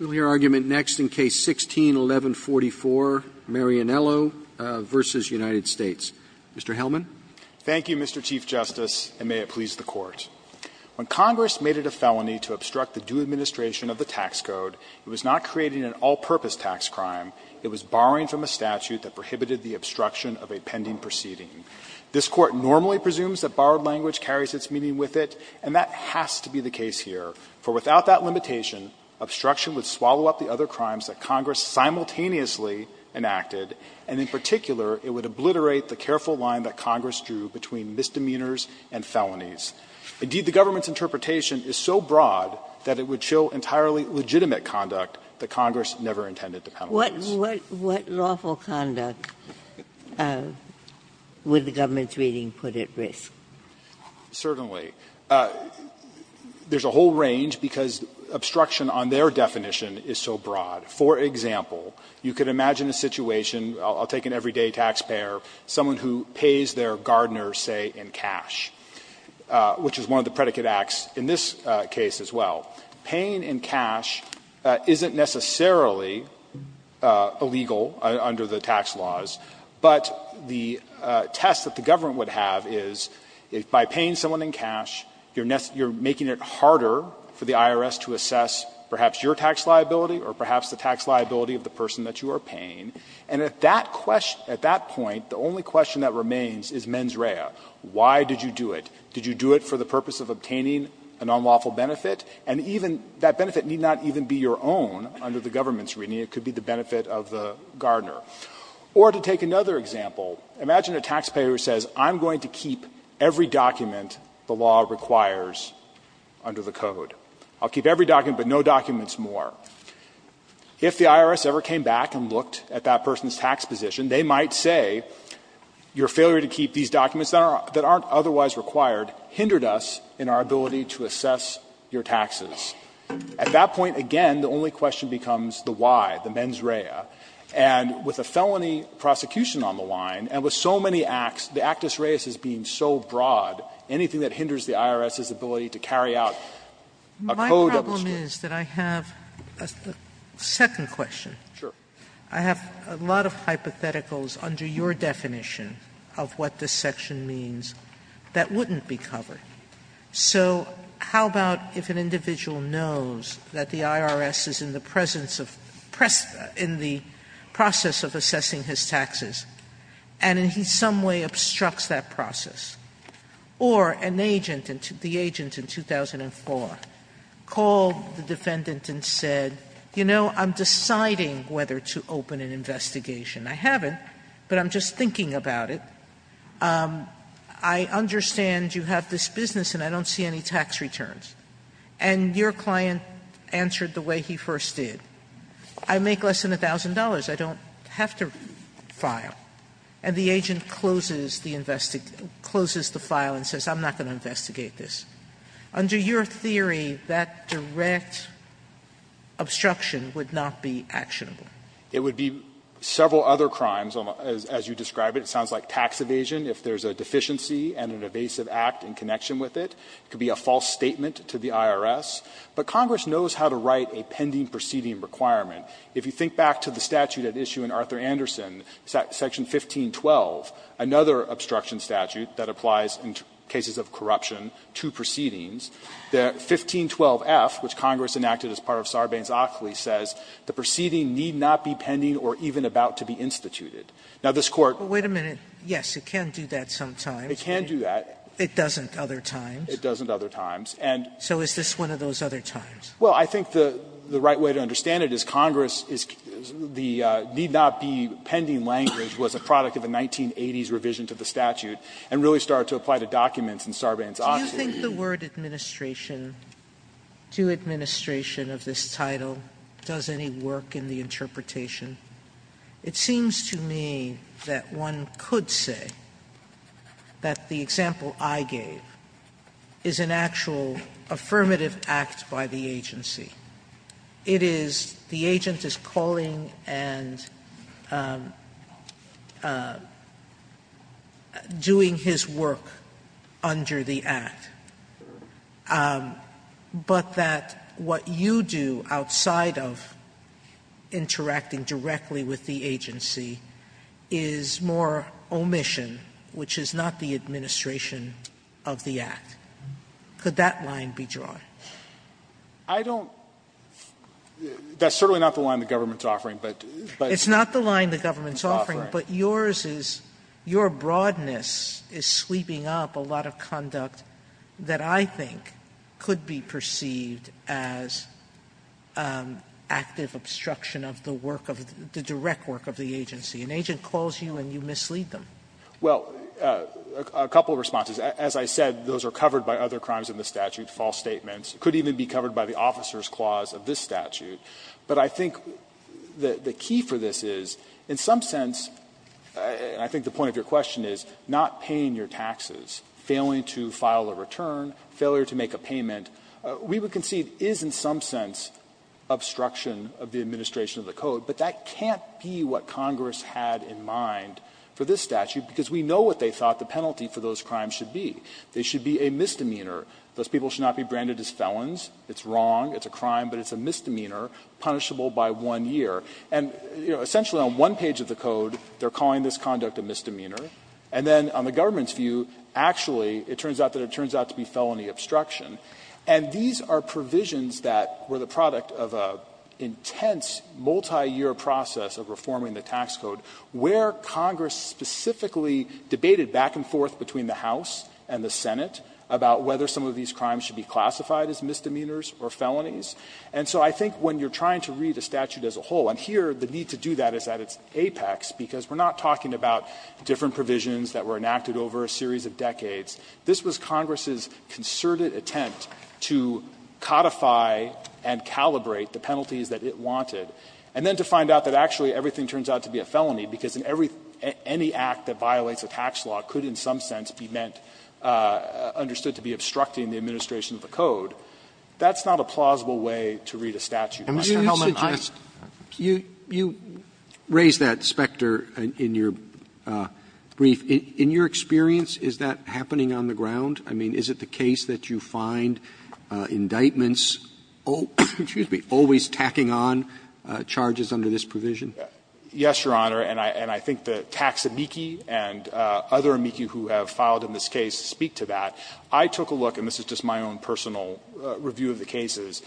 We'll hear argument next in Case 16-1144, Marinello v. United States. Mr. Hellman. Hellman, Thank you, Mr. Chief Justice, and may it please the Court. When Congress made it a felony to obstruct the due administration of the tax code, it was not creating an all-purpose tax crime. It was borrowing from a statute that prohibited the obstruction of a pending proceeding. This Court normally presumes that borrowed language carries its meaning with it, and that has to be the case here. For without that limitation, obstruction would swallow up the other crimes that Congress simultaneously enacted, and in particular, it would obliterate the careful line that Congress drew between misdemeanors and felonies. Indeed, the government's interpretation is so broad that it would show entirely legitimate conduct that Congress never intended to penalize. Ginsburg. What lawful conduct would the government's reading put at risk? Hellman, Certainly. There's a whole range because obstruction on their definition is so broad. For example, you could imagine a situation, I'll take an everyday taxpayer, someone who pays their gardener, say, in cash, which is one of the predicate acts in this case as well. Paying in cash isn't necessarily illegal under the tax laws, but the test that the government would have is if by paying someone in cash, you're making it harder for the IRS to assess perhaps your tax liability or perhaps the tax liability of the person that you are paying, and at that point, the only question that remains is mens rea. Why did you do it? Did you do it for the purpose of obtaining a nonlawful benefit? And even that benefit need not even be your own under the government's reading. It could be the benefit of the gardener. Or to take another example, imagine a taxpayer who says, I'm going to keep every document the law requires under the code. I'll keep every document, but no documents more. If the IRS ever came back and looked at that person's tax position, they might say your failure to keep these documents that aren't otherwise required hindered us in our ability to assess your taxes. At that point, again, the only question becomes the why, the mens rea. And with a felony prosecution on the line, and with so many acts, the actus reis is being so broad, anything that hinders the IRS's ability to carry out a code of the statute. Sotomayor, My problem is that I have a second question. Fisher, Sure. Sotomayor, I have a lot of hypotheticals under your definition of what this section means that wouldn't be covered. So how about if an individual knows that the IRS is in the presence of, in the process of assessing his taxes, and in some way obstructs that process? Or an agent, the agent in 2004, called the defendant and said, you know, I'm deciding whether to open an investigation. I haven't, but I'm just thinking about it. I understand you have this business, and I don't see any tax returns. And your client answered the way he first did. I make less than $1,000. I don't have to file. And the agent closes the file and says, I'm not going to investigate this. Under your theory, that direct obstruction would not be actionable. Fisher, It would be several other crimes, as you describe it. It sounds like tax evasion, if there's a deficiency and an evasive act in connection with it. It could be a false statement to the IRS. But Congress knows how to write a pending proceeding requirement. If you think back to the statute at issue in Arthur Anderson, Section 1512, another obstruction statute that applies in cases of corruption to proceedings, the 1512f, which Congress enacted as part of Sarbanes-Ockley, says the proceeding need not be pending or even about to be instituted. Now, this Court Wait a minute. Yes, it can do that sometimes. It can do that. It doesn't other times. It doesn't other times. So is this one of those other times? Well, I think the right way to understand it is Congress is the need not be pending language was a product of the 1980s revision to the statute and really started to apply to documents in Sarbanes-Ockley. Sotomayor, do you think the word administration, to administration of this title, does any work in the interpretation? It seems to me that one could say that the example I gave is an actual affirmative act by the agency. It is the agent is calling and doing his work under the act, but that what you do outside of interacting directly with the agency is more omission, which is not the administration of the act. Could that line be drawn? I don't that's certainly not the line the government's offering, but it's not the line the government's offering, but yours is your broadness is sweeping up a lot of conduct that I think could be perceived as active obstruction of the work of the direct work of the agency. An agent calls you and you mislead them. Well, a couple of responses. As I said, those are covered by other crimes in the statute, false statements. It could even be covered by the officer's clause of this statute. But I think the key for this is, in some sense, and I think the point of your question is, not paying your taxes, failing to file a return, failure to make a payment, we would concede is in some sense obstruction of the administration of the code. But that can't be what Congress had in mind for this statute, because we know what they thought the penalty for those crimes should be. They should be a misdemeanor. Those people should not be branded as felons. It's wrong, it's a crime, but it's a misdemeanor, punishable by one year. And, you know, essentially on one page of the code, they're calling this conduct a misdemeanor. And then on the government's view, actually, it turns out that it turns out to be felony obstruction. And these are provisions that were the product of an intense, multiyear process of reforming the tax code, where Congress specifically debated back and forth between the House and the Senate about whether some of these crimes should be classified as misdemeanors or felonies. And so I think when you're trying to read a statute as a whole, and here the need to do that is at its apex, because we're not talking about different provisions that were enacted over a series of decades. This was Congress's concerted attempt to codify and calibrate the penalties that it wanted. And then to find out that actually everything turns out to be a felony, because in every any act that violates a tax law could in some sense be meant, understood to be obstructing the administration of the code, that's not a plausible way to read a statute. Mr. Helman, I think that's fair. Roberts, you raised that specter in your brief. In your experience, is that happening on the ground? I mean, is it the case that you find indictments, excuse me, always tacking on to the charges under this provision? Yes, Your Honor, and I think the tax amici and other amici who have filed in this case speak to that. I took a look, and this is just my own personal review of the cases,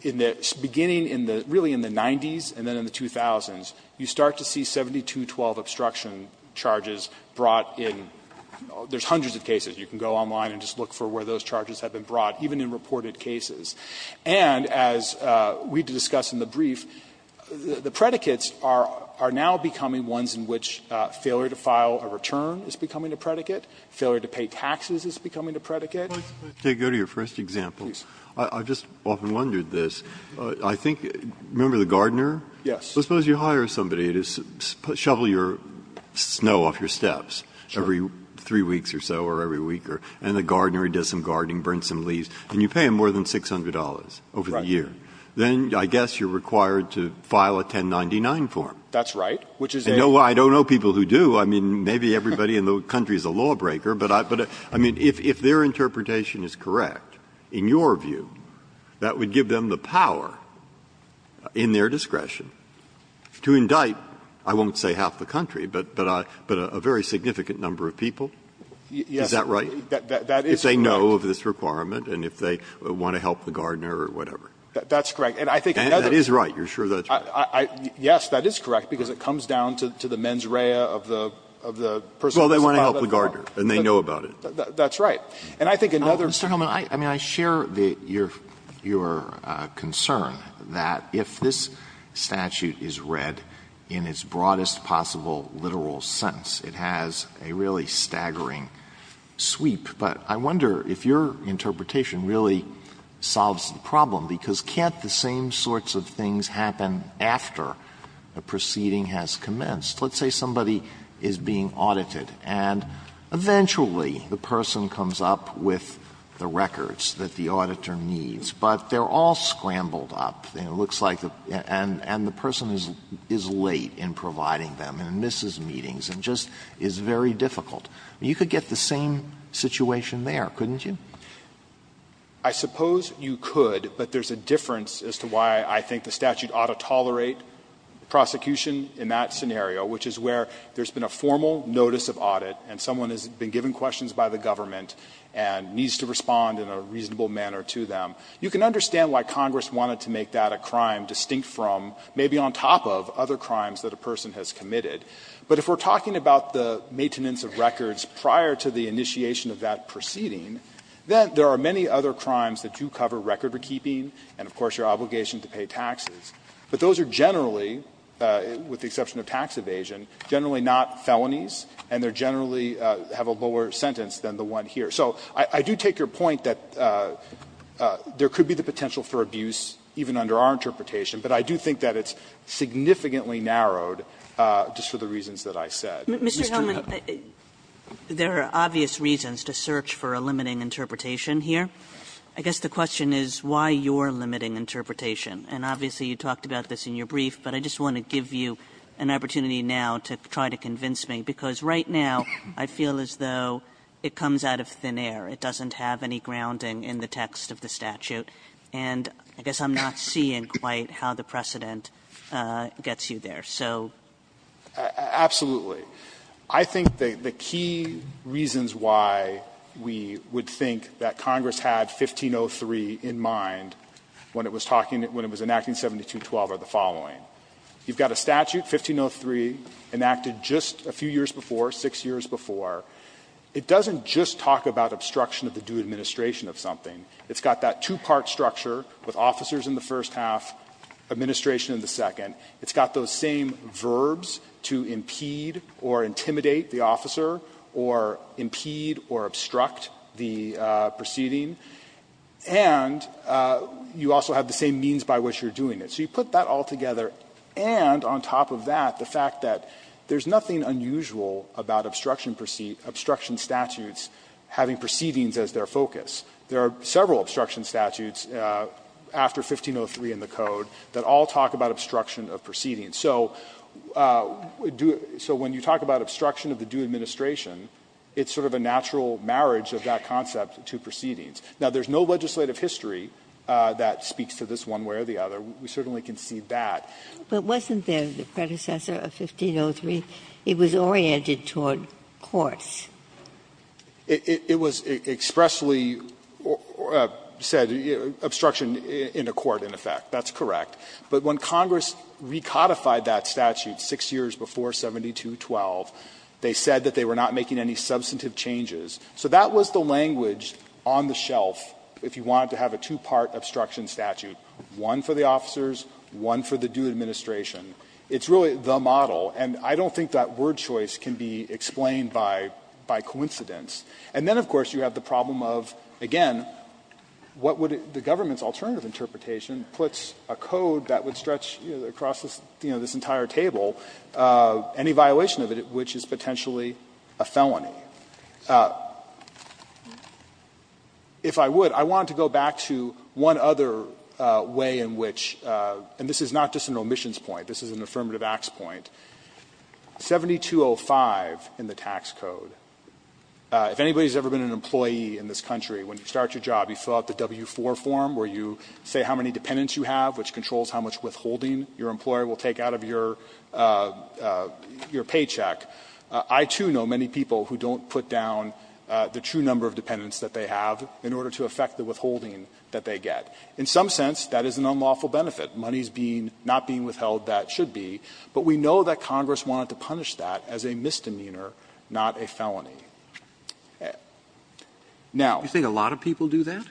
in the beginning in the really in the 90s and then in the 2000s, you start to see 7212 obstruction charges brought in. There's hundreds of cases. You can go online and just look for where those charges have been brought, even in reported cases. And as we discussed in the brief, the predicates are now becoming ones in which failure to file a return is becoming a predicate, failure to pay taxes is becoming a predicate. If I could go to your first example. I just often wondered this. I think, remember the gardener? Yes. Suppose you hire somebody to shovel your snow off your steps every three weeks or so or every week, and the gardener does some gardening, burns some leaves, and you pay him more than $600 over the year, then I guess you're required to file a 1099 form. That's right, which is a law. I don't know people who do. I mean, maybe everybody in the country is a lawbreaker, but I mean, if their interpretation is correct, in your view, that would give them the power in their discretion to indict, I won't say half the country, but a very significant number of people. Is that right? Yes. That is correct. If they know of this requirement and if they want to help the gardener or whatever. That's correct. And I think another one. And that is right. You're sure that's right? Yes, that is correct, because it comes down to the mens rea of the person who's about to file. Well, they want to help the gardener, and they know about it. That's right. And I think another one. Mr. Hillman, I mean, I share your concern that if this statute is read in its broadest possible literal sense, it has a really staggering sweep. But I wonder if your interpretation really solves the problem, because can't the same sorts of things happen after a proceeding has commenced? Let's say somebody is being audited, and eventually the person comes up with the records that the auditor needs, but they're all scrambled up. And it looks like the person is late in providing them and misses meetings and just is very difficult. You could get the same situation there, couldn't you? I suppose you could, but there's a difference as to why I think the statute ought to tolerate prosecution in that scenario, which is where there's been a formal notice of audit, and someone has been given questions by the government and needs to respond in a reasonable manner to them. You can understand why Congress wanted to make that a crime distinct from, maybe on top of, other crimes that a person has committed. But if we're talking about the maintenance of records prior to the initiation of that proceeding, then there are many other crimes that do cover record-keeping and, of course, your obligation to pay taxes. But those are generally, with the exception of tax evasion, generally not felonies, and they generally have a lower sentence than the one here. So I do take your point that there could be the potential for abuse, even under our interpretation, but I do think that it's significantly narrowed just for the reasons that I said. Mr. Hellman, there are obvious reasons to search for a limiting interpretation here. I guess the question is why your limiting interpretation, and obviously you talked about this in your brief, but I just want to give you an opportunity now to try to convince me, because right now I feel as though it comes out of thin air. It doesn't have any grounding in the text of the statute, and I guess I'm not seeing quite how the precedent gets you there. So ---- Hellman, I think the key reasons why we would think that Congress had 1503 in mind when it was talking, when it was enacting 7212 are the following. You've got a statute, 1503, enacted just a few years before, six years before. It doesn't just talk about obstruction of the due administration of something. It's got that two-part structure with officers in the first half, administration in the second. It's got those same verbs to impede or intimidate the officer or impede or obstruct the proceeding, and you also have the same means by which you're doing it. So you put that all together, and on top of that, the fact that there's nothing unusual about obstruction statutes having proceedings as their focus. There are several obstruction statutes after 1503 in the Code that all talk about obstruction of proceedings. So when you talk about obstruction of the due administration, it's sort of a natural marriage of that concept to proceedings. Now, there's no legislative history that speaks to this one way or the other. We certainly can see that. Ginsburg. But wasn't there the predecessor of 1503? It was oriented toward courts. It was expressly said, obstruction in a court, in effect. That's correct. But when Congress recodified that statute six years before 7212, they said that they were not making any substantive changes. So that was the language on the shelf if you wanted to have a two-part obstruction statute, one for the officers, one for the due administration. It's really the model. And I don't think that word choice can be explained by coincidence. And then, of course, you have the problem of, again, what would the government's alternative interpretation puts a code that would stretch across this entire table, any violation of it, which is potentially a felony. If I would, I want to go back to one other way in which, and this is not just an omissions point, this is an affirmative acts point, 7205 in the tax code, if anybody has ever been an employee in this country, when you start your job, you fill out the W-4 form where you say how many dependents you have, which controls how much withholding your employer will take out of your paycheck. I, too, know many people who don't put down the true number of dependents that they have in order to affect the withholding that they get. In some sense, that is an unlawful benefit. Money is being not being withheld, that should be. But we know that Congress wanted to punish that as a misdemeanor, not a felony. Now you think a lot of people do that?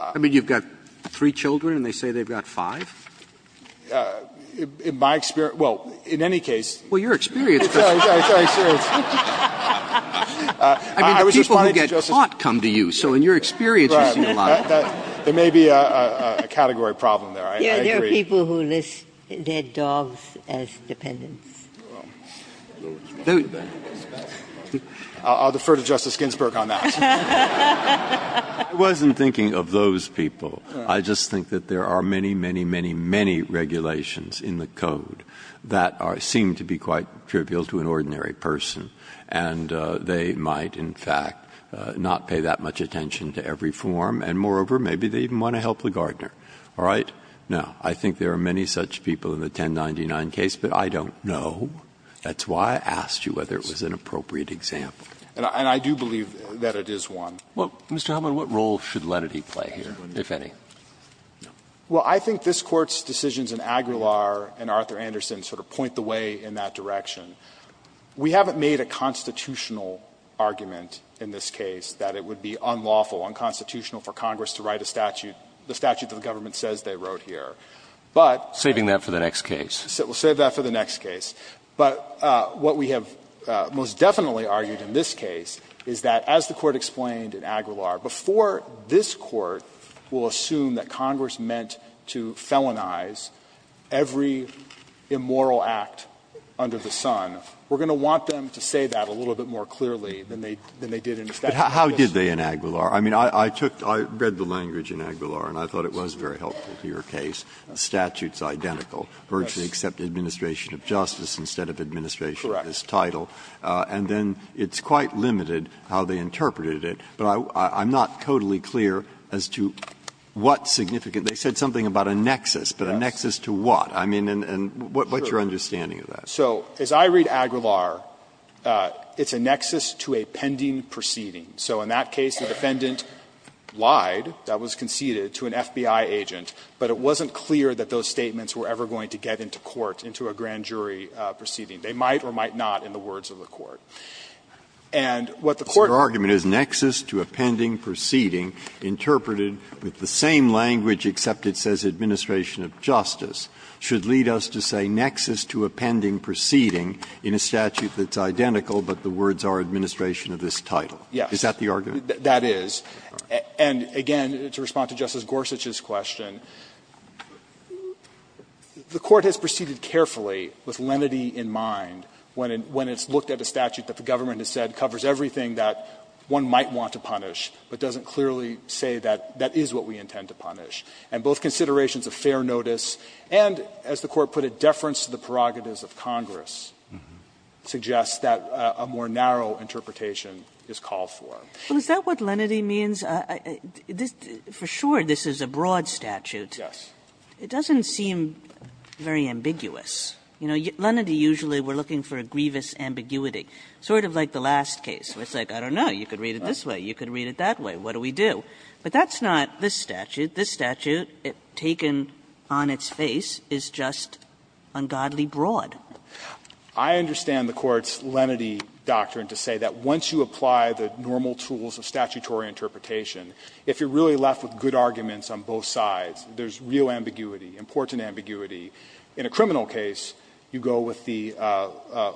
I mean, you've got three children and they say they've got five? In my experience, well, in any case. Well, your experience. I'm sorry, I'm sorry, I'm sorry. I mean, the people who get caught come to you, so in your experience, you see a lot. There may be a category problem there. I agree. There are people who list their dogs as dependents. I'll defer to Justice Ginsburg on that. I wasn't thinking of those people. I just think that there are many, many, many, many regulations in the code that seem to be quite trivial to an ordinary person, and they might, in fact, not pay that much attention to every form, and moreover, maybe they even want to help Ligardner. All right? Now, I think there are many such people in the 1099 case, but I don't know. That's why I asked you whether it was an appropriate example. And I do believe that it is one. Mr. Hubman, what role should Lennity play here, if any? Well, I think this Court's decisions in Aguilar and Arthur Anderson sort of point the way in that direction. We haven't made a constitutional argument in this case that it would be unlawful, unconstitutional for Congress to write a statute, the statute that the government says they wrote here. Saving that for the next case. We'll save that for the next case. But what we have most definitely argued in this case is that, as the Court explained in Aguilar, before this Court will assume that Congress meant to felonize every immoral act under the sun, we're going to want them to say that a little bit more clearly than they did in statute. Breyer. But how did they in Aguilar? I mean, I took the – I read the language in Aguilar, and I thought it was very helpful to your case. The statute's identical, virtually except administration of justice instead of administration of this title. Correct. And then it's quite limited how they interpreted it, but I'm not totally clear as to what significant – they said something about a nexus, but a nexus to what? I mean, and what's your understanding of that? So as I read Aguilar, it's a nexus to a pending proceeding. So in that case, the defendant lied, that was conceded, to an FBI agent, but it wasn't clear that those statements were ever going to get into court, into a grand jury proceeding. They might or might not in the words of the Court. And what the Court – So your argument is nexus to a pending proceeding interpreted with the same language except it says administration of justice. Should lead us to say nexus to a pending proceeding in a statute that's identical, but the words are administration of this title. Yes. Is that the argument? That is. And again, to respond to Justice Gorsuch's question, the Court has proceeded carefully with lenity in mind when it's looked at a statute that the government has said covers everything that one might want to punish, but doesn't clearly say that that is what we intend to punish. And both considerations of fair notice and, as the Court put it, deference to the prerogatives of Congress suggest that a more narrow interpretation is called for. Well, is that what lenity means? For sure, this is a broad statute. Yes. It doesn't seem very ambiguous. You know, lenity usually we're looking for a grievous ambiguity, sort of like the last case, where it's like, I don't know, you could read it this way, you could read it that way, what do we do? But that's not this statute. This statute, taken on its face, is just ungodly broad. I understand the Court's lenity doctrine to say that once you apply the normal tools of statutory interpretation, if you're really left with good arguments on both sides, there's real ambiguity, important ambiguity. In a criminal case, you go with the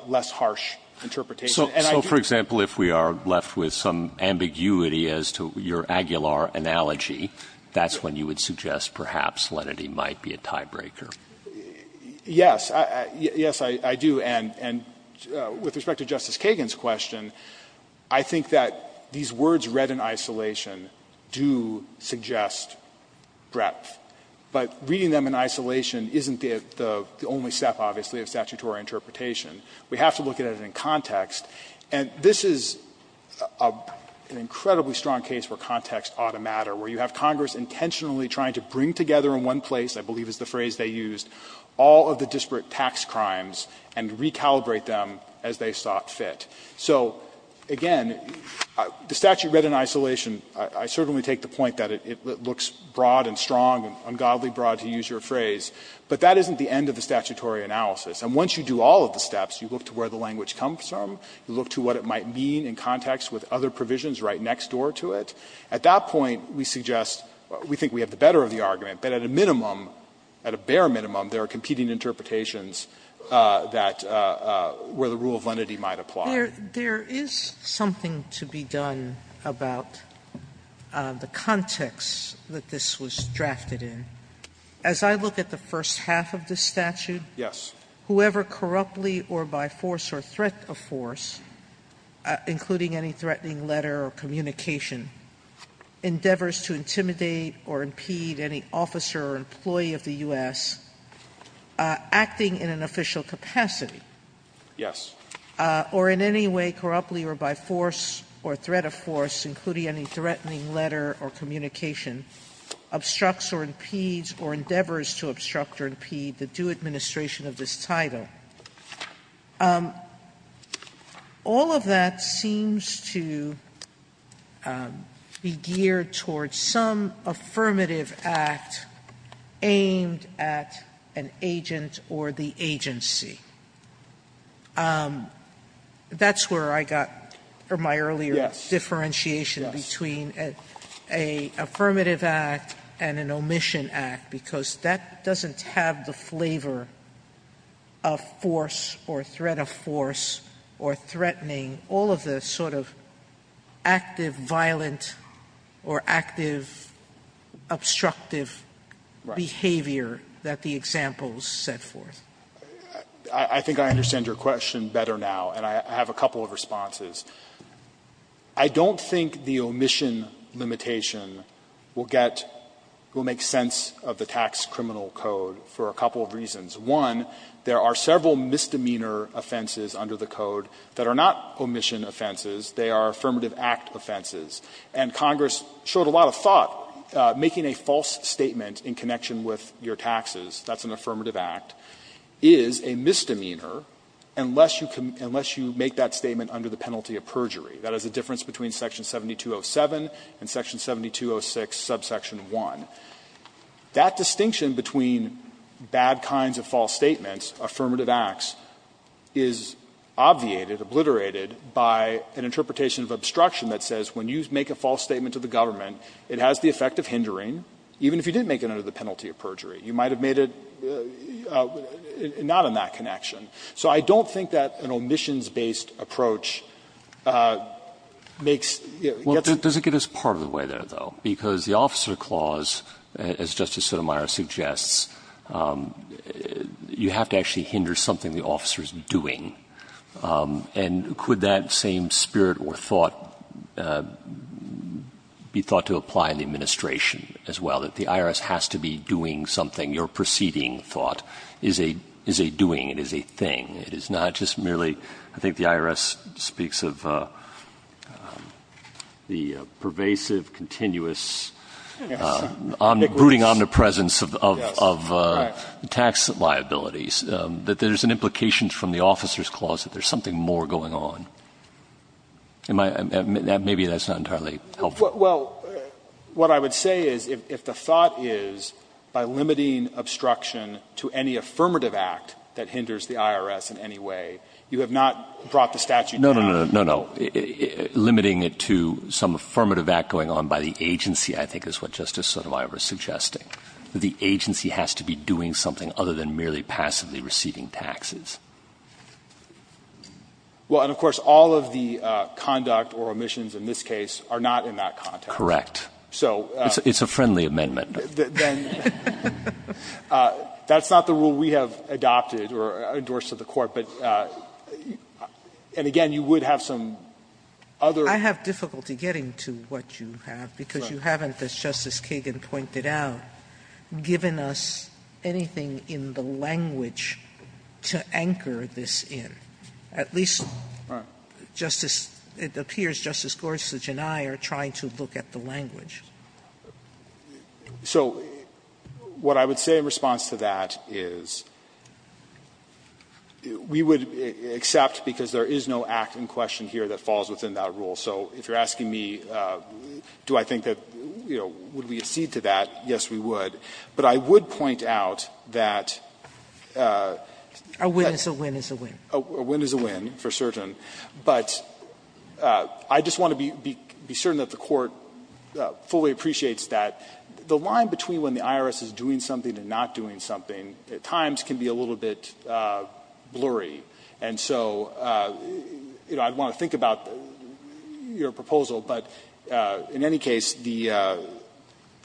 less harsh interpretation. And I do think that's true. So, for example, if we are left with some ambiguity as to your Aguilar analogy, that's when you would suggest perhaps lenity might be a tiebreaker. Yes. Yes, I do. And with respect to Justice Kagan's question, I think that these words read in isolation do suggest breadth. But reading them in isolation isn't the only step, obviously, of statutory interpretation. We have to look at it in context. And this is an incredibly strong case where context ought to matter, where you have Congress intentionally trying to bring together in one place, I believe is the phrase they used, all of the disparate tax crimes and recalibrate them as they sought fit. So, again, the statute read in isolation, I certainly take the point that it looks broad and strong and ungodly broad, to use your phrase, but that isn't the end of the statutory analysis. And once you do all of the steps, you look to where the language comes from, you look to what it might mean in context with other provisions right next door to it. At that point, we suggest we think we have the better of the argument, but at a minimum, at a bare minimum, there are competing interpretations that where the rule of lenity might apply. Sotomayor, there is something to be done about the context that this was drafted As I look at the first half of the statute. Yes. Whoever corruptly or by force or threat of force, including any threatening letter or communication, endeavors to intimidate or impede any officer or employee of the U.S. acting in an official capacity. Yes. Or in any way corruptly or by force or threat of force, including any threatening letter or communication, obstructs or impedes or endeavors to obstruct or impede the due administration of this title. All of that seems to be geared towards some affirmative act aimed at an agent or the agency. That's where I got my earlier differentiation between an affirmative act and an omission act, because that doesn't have the flavor of force or threat of force or threatening all of the sort of active, violent or active, obstructive behavior that the examples set forth. I think I understand your question better now, and I have a couple of responses. I don't think the omission limitation will get or make sense of the tax criminal code for a couple of reasons. One, there are several misdemeanor offenses under the code that are not omission offenses. They are affirmative act offenses. And Congress showed a lot of thought making a false statement in connection with your taxes. That's an affirmative act. That is a misdemeanor unless you make that statement under the penalty of perjury. That is the difference between section 7207 and section 7206, subsection 1. That distinction between bad kinds of false statements, affirmative acts, is obviated, obliterated by an interpretation of obstruction that says when you make a false statement to the government, it has the effect of hindering, even if you didn't make it under the penalty of perjury. You might have made it not in that connection. So I don't think that an omissions-based approach makes or gets. Roberts Well, does it get us part of the way there, though? Because the officer clause, as Justice Sotomayor suggests, you have to actually hinder something the officer is doing. And could that same spirit or thought be thought to apply in the administration as well, that the IRS has to be doing something, your preceding thought is a doing, it is a thing, it is not just merely the IRS speaks of the pervasive, continuous, brooding omnipresence of tax liabilities, that there's an implication from the officer's clause that there's something more going on? Maybe that's not entirely helpful. Well, what I would say is if the thought is, by limiting obstruction to any affirmative act that hinders the IRS in any way, you have not brought the statute down. No, no, no, no, no, no. Limiting it to some affirmative act going on by the agency, I think, is what Justice Sotomayor is suggesting. The agency has to be doing something other than merely passively receiving taxes. Well, and of course, all of the conduct or omissions in this case are not in that context. Correct. It's a friendly amendment. That's not the rule we have adopted or endorsed at the court, but, and again, you would have some other. I have difficulty getting to what you have, because you haven't, as Justice Kagan pointed out, given us anything in the language to anchor this in. At least, Justice — it appears Justice Gorsuch and I are trying to look at the language. So what I would say in response to that is we would accept, because there is no act in question here that falls within that rule, so if you're asking me, do I think that, you know, would we accede to that, yes, we would, but I would point out that A win is a win is a win. A win is a win, for certain, but I just want to be certain that the Court fully appreciates that the line between when the IRS is doing something and not doing something at times can be a little bit blurry, and so, you know, I'd want to think about your proposal, but in any case, the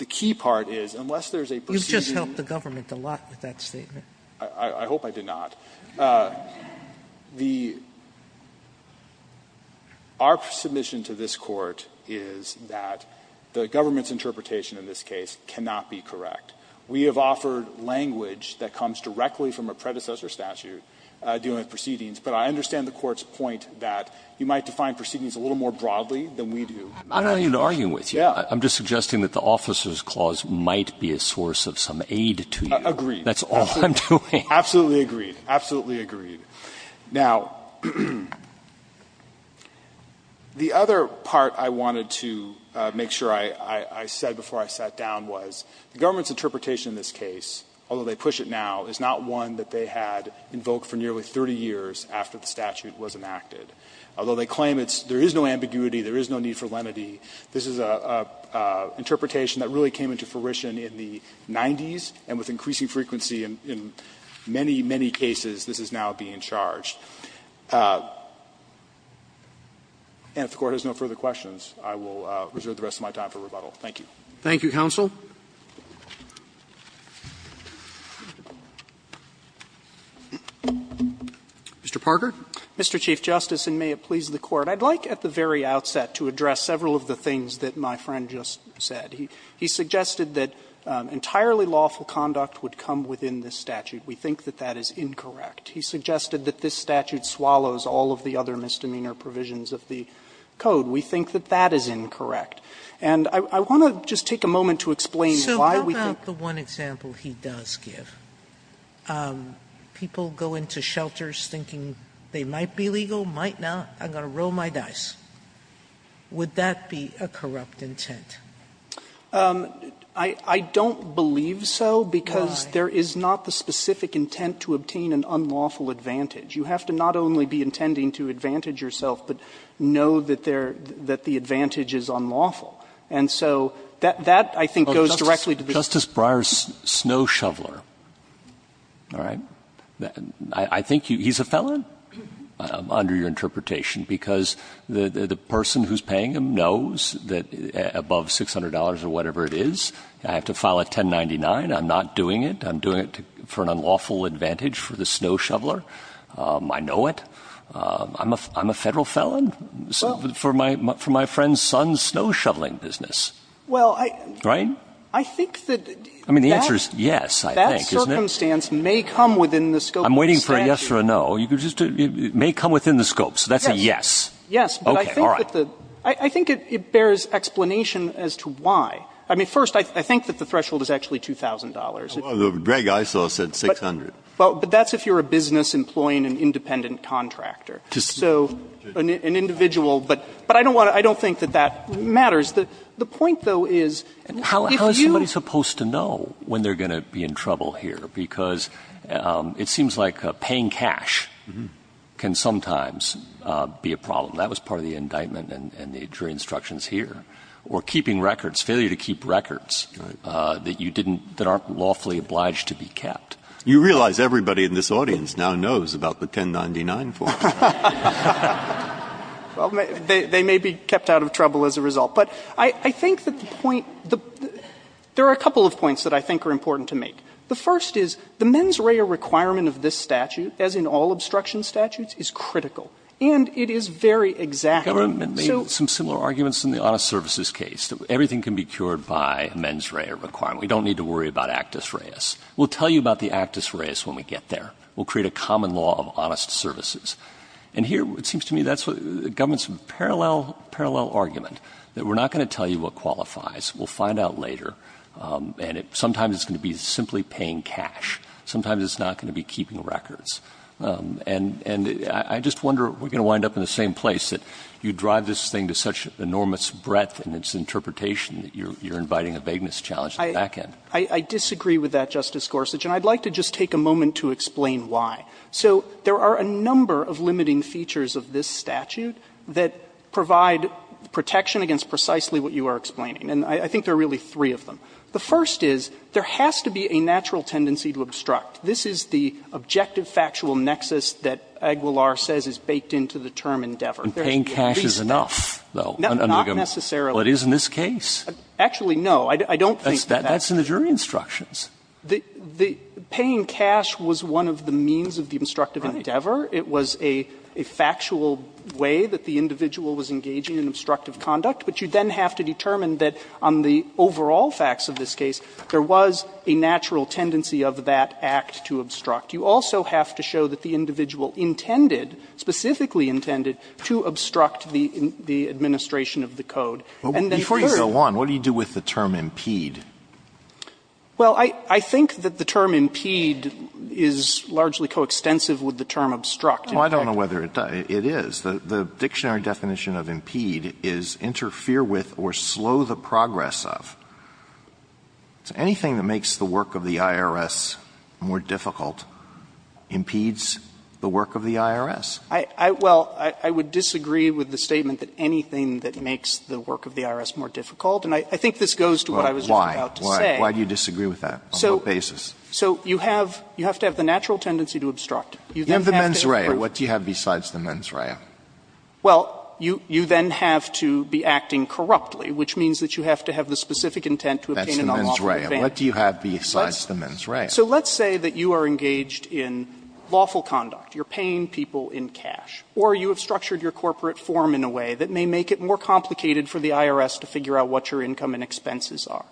key part is, unless there's a procedure You've just helped the government a lot with that statement. I hope I did not. The — our submission to this Court is that the government's interpretation in this case cannot be correct. We have offered language that comes directly from a predecessor statute dealing with proceedings, but I understand the Court's point that you might define proceedings a little more broadly than we do. I don't need to argue with you. Yeah. I'm just suggesting that the officer's clause might be a source of some aid to you. Agreed. That's all I'm doing. Absolutely agreed. Absolutely agreed. Now, the other part I wanted to make sure I said before I sat down was the government's interpretation in this case, although they push it now, is not one that they had invoked for nearly 30 years after the statute was enacted, although they claim it's — there is no ambiguity. There is no need for lenity. This is an interpretation that really came into fruition in the 90s and with increasing frequency in many, many cases, this is now being charged. And if the Court has no further questions, I will reserve the rest of my time for rebuttal. Thank you. Thank you, counsel. Mr. Parker. Mr. Chief Justice, and may it please the Court, I'd like at the very outset to address several of the things that my friend just said. He suggested that entirely lawful conduct would come within this statute. We think that that is incorrect. He suggested that this statute swallows all of the other misdemeanor provisions of the code. We think that that is incorrect. And I want to just take a moment to explain why we think the one example he does give. People go into shelters thinking they might be legal, might not. I'm going to roll my dice. Would that be a corrupt intent? I don't believe so, because there is not the specific intent to obtain an unlawful advantage. You have to not only be intending to advantage yourself, but know that the advantage is unlawful. And so that, I think, goes directly to the Court. Justice Breyer's snow shoveler, all right, I think he's a felon under your interpretation, because the person who's paying him knows that above $600 or whatever it is, I have to file a 1099. I'm not doing it. I'm doing it for an unlawful advantage for the snow shoveler. I know it. I'm a Federal felon for my friend's son's snow shoveling business. Right? I mean, the answer is yes, I think, isn't it? I'm waiting for a yes or a no. It may come within the scope, so that's a yes. Yes, but I think that the – I think it bears explanation as to why. I mean, first, I think that the threshold is actually $2,000. Breyer, I saw it said $600. Well, but that's if you're a business employing an independent contractor. So an individual, but I don't want to – I don't think that that matters. The point, though, is if you – How is somebody supposed to know when they're going to be in trouble here? Because it seems like paying cash can sometimes be a problem. That was part of the indictment and the jury instructions here. Or keeping records, failure to keep records that you didn't – that aren't lawfully obliged to be kept. You realize everybody in this audience now knows about the 1099 form. Well, they may be kept out of trouble as a result. But I think that the point – there are a couple of points that I think are important to make. The first is the mens rea requirement of this statute, as in all obstruction statutes, is critical, and it is very exacting. Government made some similar arguments in the honest services case, that everything can be cured by a mens rea requirement. We don't need to worry about actus reas. We'll tell you about the actus reas when we get there. We'll create a common law of honest services. And here it seems to me that's what the government's parallel argument, that we're not going to tell you what qualifies, we'll find out later, and sometimes it's going to be simply paying cash. Sometimes it's not going to be keeping records. And I just wonder, we're going to wind up in the same place, that you drive this thing to such enormous breadth in its interpretation that you're inviting a vagueness challenge at the back end. I disagree with that, Justice Gorsuch, and I'd like to just take a moment to explain why. So there are a number of limiting features of this statute that provide protection against precisely what you are explaining, and I think there are really three of them. The first is, there has to be a natural tendency to obstruct. This is the objective factual nexus that Aguilar says is baked into the term endeavor. Breyer, paying cash is enough, though. Not necessarily. But it is in this case. Actually, no. I don't think that's in the jury instructions. The paying cash was one of the means of the obstructive endeavor. It was a factual way that the individual was engaging in obstructive conduct. But you then have to determine that on the overall facts of this case, there was a natural tendency of that act to obstruct. You also have to show that the individual intended, specifically intended, to obstruct the administration of the code. And then third of all. Alito Before you go on, what do you do with the term impede? Well, I think that the term impede is largely coextensive with the term obstruct. Well, I don't know whether it does. It is. The dictionary definition of impede is interfere with or slow the progress of. Anything that makes the work of the IRS more difficult impedes the work of the IRS. Well, I would disagree with the statement that anything that makes the work of the IRS more difficult, and I think this goes to what I was just about to say. Why do you disagree with that? On what basis? So you have to have the natural tendency to obstruct. You have the mens rea. What do you have besides the mens rea? Well, you then have to be acting corruptly, which means that you have to have the specific intent to obtain an unlawful advantage. What do you have besides the mens rea? So let's say that you are engaged in lawful conduct. You are paying people in cash. Or you have structured your corporate form in a way that may make it more complicated for the IRS to figure out what your income and expenses are.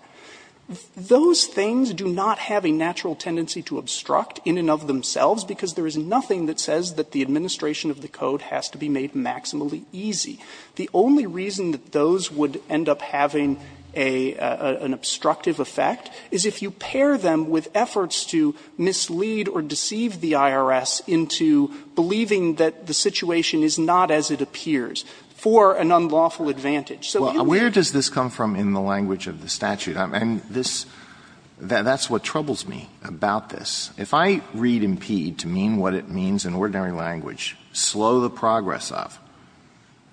Those things do not have a natural tendency to obstruct in and of themselves, because there is nothing that says that the administration of the code has to be made maximally easy. The only reason that those would end up having a — an obstructive effect is if you pair them with efforts to mislead or deceive the IRS into believing that the situation is not as it appears for an unlawful advantage. So you would be able to do that. Well, where does this come from in the language of the statute? And this — that's what troubles me about this. If I read impede to mean what it means in ordinary language, slow the progress of,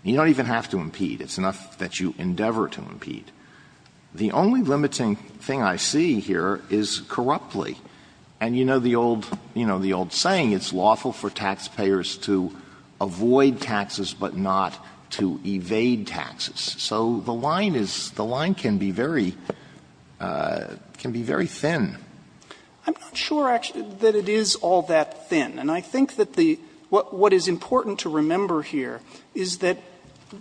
you don't even have to impede. It's enough that you endeavor to impede. The only limiting thing I see here is corruptly. And you know the old — you know, the old saying, it's lawful for taxpayers to avoid taxes but not to evade taxes. So the line is — the line can be very — can be very thin. I'm not sure, actually, that it is all that thin. And I think that the — what is important to remember here is that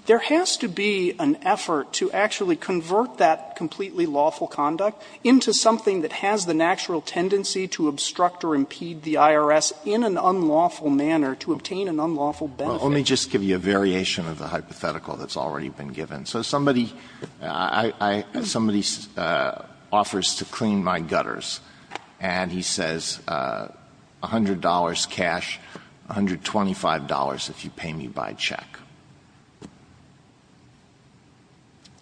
there has to be an effort to actually convert that completely lawful conduct into something that has the natural tendency to obstruct or impede the IRS in an unlawful manner to obtain an unlawful benefit. Well, let me just give you a variation of the hypothetical that's already been given. So somebody — I — somebody offers to clean my gutters, and he says, $100 cash, $125 if you pay me by check.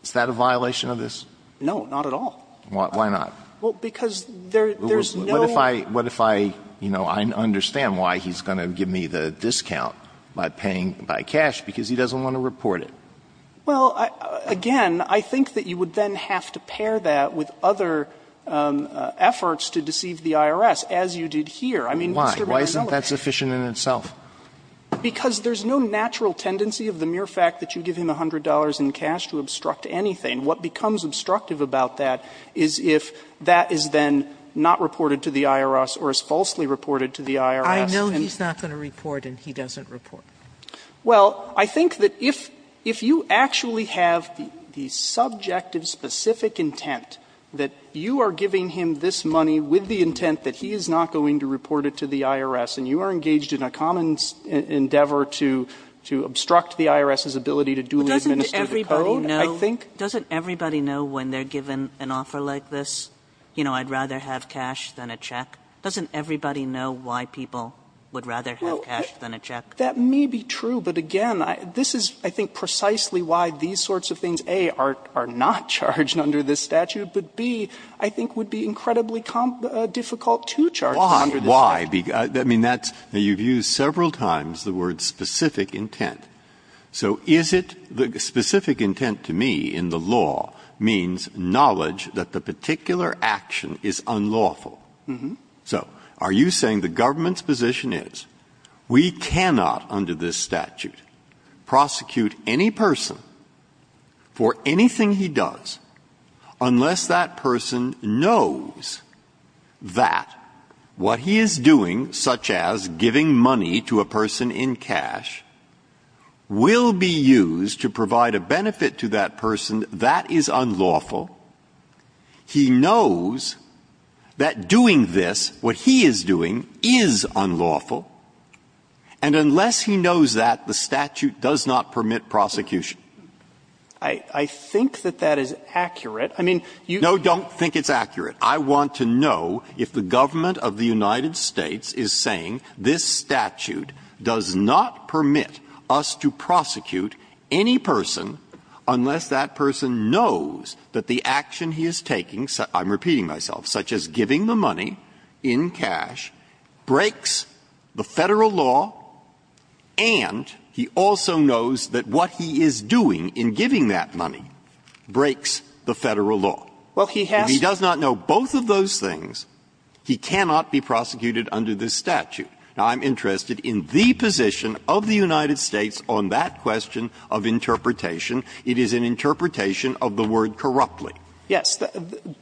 Is that a violation of this? No, not at all. Why not? Well, because there's no — What if I — what if I — you know, I understand why he's going to give me the discount by paying by cash, because he doesn't want to report it. Well, again, I think that you would then have to pair that with other efforts to deceive the IRS, as you did here. I mean, Mr. Banner, you know it. Why? Why isn't that sufficient in itself? Because there's no natural tendency of the mere fact that you give him $100 in cash to obstruct anything. What becomes obstructive about that is if that is then not reported to the IRS or is falsely reported to the IRS. I know he's not going to report, and he doesn't report. Well, I think that if you actually have the subjective specific intent that you are giving him this money with the intent that he is not going to report it to the IRS, and you are engaged in a common endeavor to obstruct the IRS's ability to duly administer the code, I think — But doesn't everybody know — doesn't everybody know when they're given an offer like this, you know, I'd rather have cash than a check, doesn't everybody know why people would rather have cash than a check? That may be true, but again, this is, I think, precisely why these sorts of things A, are not charged under this statute, but B, I think would be incredibly difficult to charge them under this statute. Why? Why? I mean, that's — you've used several times the word specific intent. So is it — specific intent to me in the law means knowledge that the particular action is unlawful. So are you saying the government's position is, we cannot — we cannot, under this statute, prosecute any person for anything he does unless that person knows that what he is doing, such as giving money to a person in cash, will be used to provide a benefit to that person, that is unlawful? He knows that doing this, what he is doing, is unlawful. And unless he knows that, the statute does not permit prosecution. I think that that is accurate. I mean, you — No, don't think it's accurate. I want to know if the government of the United States is saying this statute does not permit us to prosecute any person unless that person knows that the action he is taking, I'm repeating myself, such as giving the money in cash breaks the Federal law, and he also knows that what he is doing in giving that money breaks the Federal law. Well, he has to — If he does not know both of those things, he cannot be prosecuted under this statute. Now, I'm interested in the position of the United States on that question of interpretation. It is an interpretation of the word corruptly. Yes.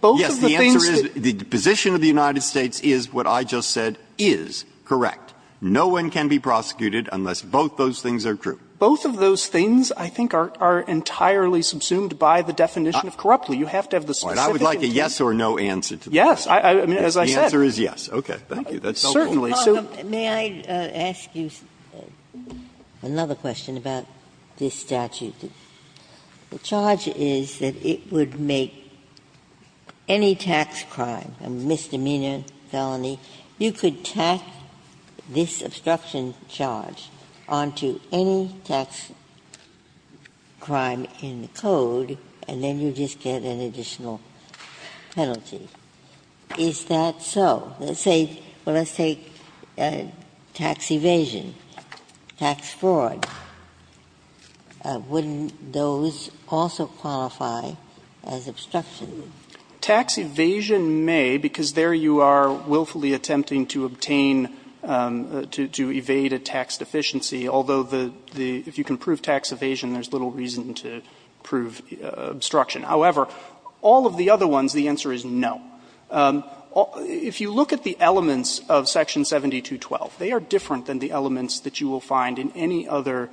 Both of the things that — Yes. The answer is the position of the United States is what I just said is correct. No one can be prosecuted unless both those things are true. Both of those things, I think, are entirely subsumed by the definition of corruptly. You have to have the specific — I would like a yes or no answer to that. Yes. I mean, as I said — The answer is yes. Okay. Thank you. That's helpful. Certainly. So — May I ask you another question about this statute? The charge is that it would make any tax crime a misdemeanor felony. You could tack this obstruction charge onto any tax crime in the Code, and then you just get an additional penalty. Is that so? Let's say — well, let's take tax evasion, tax fraud. Wouldn't those also qualify as obstruction? Tax evasion may, because there you are willfully attempting to obtain — to evade a tax deficiency, although the — if you can prove tax evasion, there's little reason to prove obstruction. However, all of the other ones, the answer is no. If you look at the elements of Section 7212, they are different than the elements that you will find in any other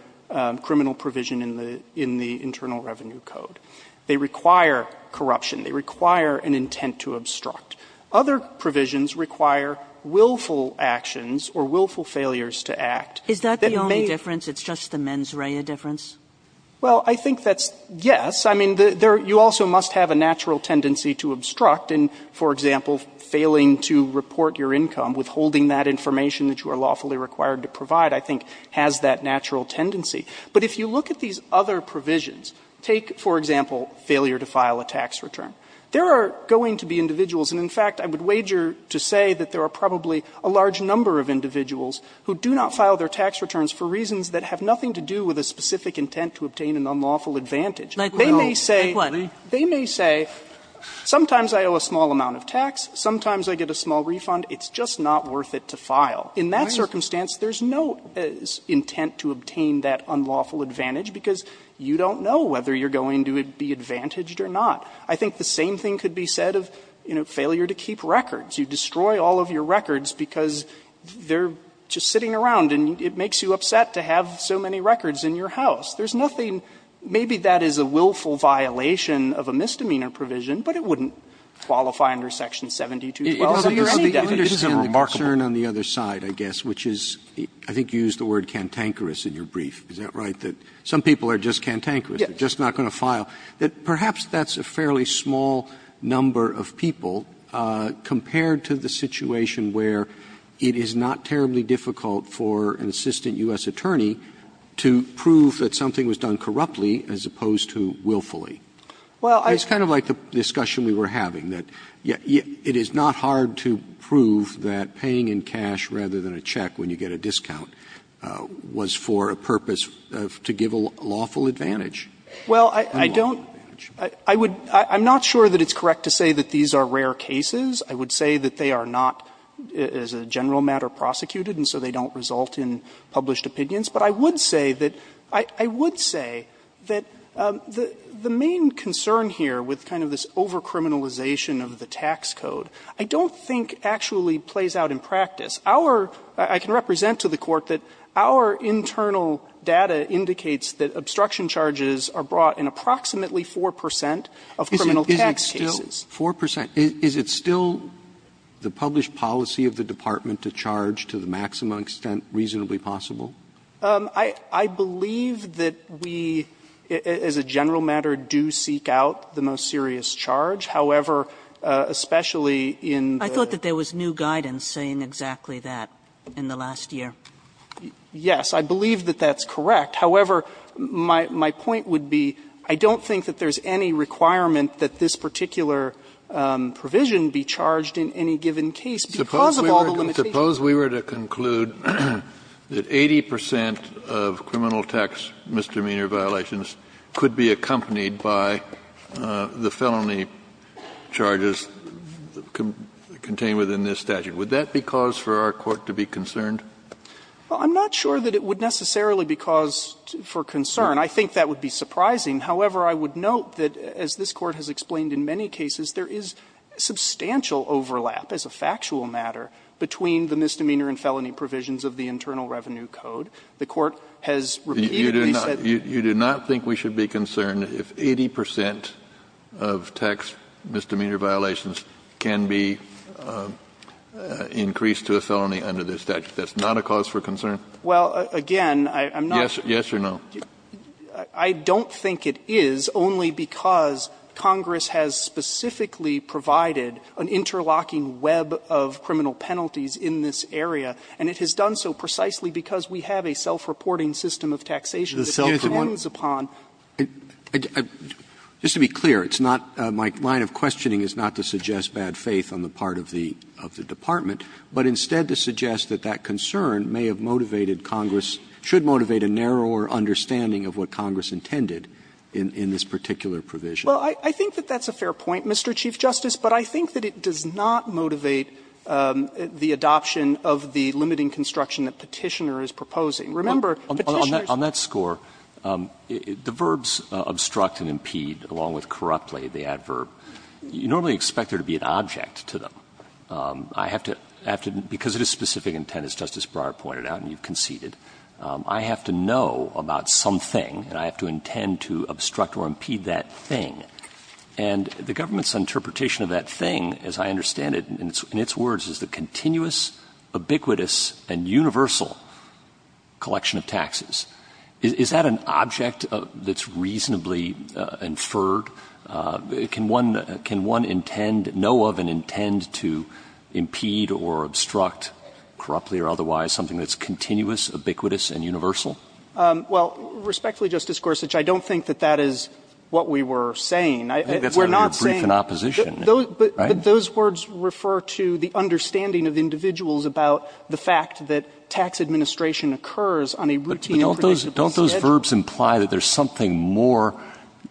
criminal provision in the — in the Internal Revenue Code. They require corruption. They require an intent to obstruct. Other provisions require willful actions or willful failures to act. Is that the only difference? It's just the mens rea difference? Well, I think that's — yes. I mean, you also must have a natural tendency to obstruct. And, for example, failing to report your income, withholding that information that you are lawfully required to provide, I think, has that natural tendency. But if you look at these other provisions, take, for example, failure to file a tax return, there are going to be individuals — and in fact, I would wager to say that there are probably a large number of individuals who do not file their tax returns for reasons that have nothing to do with a specific intent to obtain an unlawful advantage. They may say — Like what? They may say, sometimes I owe a small amount of tax, sometimes I get a small refund, it's just not worth it to file. In that circumstance, there's no intent to obtain that unlawful advantage because you don't know whether you're going to be advantaged or not. I think the same thing could be said of, you know, failure to keep records. You destroy all of your records because they're just sitting around and it makes you upset to have so many records in your house. There's nothing — maybe that is a willful violation of a misdemeanor provision, but it wouldn't qualify under Section 7212. So you're any definitely concerned on the other side, I guess, which is — I think you used the word cantankerous in your brief. Is that right? That some people are just cantankerous, they're just not going to file. That perhaps that's a fairly small number of people compared to the situation where it is not terribly difficult for an assistant U.S. attorney to prove that some thing was done corruptly as opposed to willfully. It's kind of like the discussion we were having, that it is not hard to prove that paying in cash rather than a check when you get a discount was for a purpose to give a lawful advantage. Well, I don't — I would — I'm not sure that it's correct to say that these are rare cases. I would say that they are not, as a general matter, prosecuted and so they don't result in published opinions. But I would say that — I would say that the main concern here with kind of this over-criminalization of the tax code I don't think actually plays out in practice. Our — I can represent to the Court that our internal data indicates that obstruction charges are brought in approximately 4 percent of criminal tax cases. 4 percent. Is it still the published policy of the department to charge to the maximum extent reasonably possible? I believe that we, as a general matter, do seek out the most serious charge. However, especially in the — I thought that there was new guidance saying exactly that in the last year. Yes. I believe that that's correct. However, my point would be I don't think that there's any requirement that this particular provision be charged in any given case because of all the limitations. Kennedy. Kennedy. I suppose we were to conclude that 80 percent of criminal tax misdemeanor violations could be accompanied by the felony charges contained within this statute. Would that be cause for our court to be concerned? Well, I'm not sure that it would necessarily be cause for concern. I think that would be surprising. However, I would note that, as this Court has explained in many cases, there is substantial overlap as a factual matter between the misdemeanor and felony provisions of the Internal Revenue Code. The Court has repeatedly said — You do not think we should be concerned if 80 percent of tax misdemeanor violations can be increased to a felony under this statute? That's not a cause for concern? Well, again, I'm not — Yes or no? I don't think it is, only because Congress has specifically provided an interlocking web of criminal penalties in this area, and it has done so precisely because we have a self-reporting system of taxation that depends upon — Just to be clear, it's not — my line of questioning is not to suggest bad faith on the part of the Department, but instead to suggest that that concern may have been the understanding of what Congress intended in this particular provision. Well, I think that that's a fair point, Mr. Chief Justice, but I think that it does not motivate the adoption of the limiting construction that Petitioner is proposing. Remember, Petitioner's — On that score, the verbs obstruct and impede, along with corruptly, the adverb, you normally expect there to be an object to them. I have to — because it is specific intent, as Justice Breyer pointed out, and you've got to know about something, and I have to intend to obstruct or impede that thing. And the government's interpretation of that thing, as I understand it, in its words, is the continuous, ubiquitous, and universal collection of taxes. Is that an object that's reasonably inferred? Can one — can one intend — know of and intend to impede or obstruct, corruptly or otherwise, something that's continuous, ubiquitous, and universal? Well, respectfully, Justice Gorsuch, I don't think that that is what we were saying. I — we're not saying — I think that's what you're briefed in opposition, right? But those words refer to the understanding of individuals about the fact that tax administration occurs on a routine and predictable schedule. But don't those verbs imply that there's something more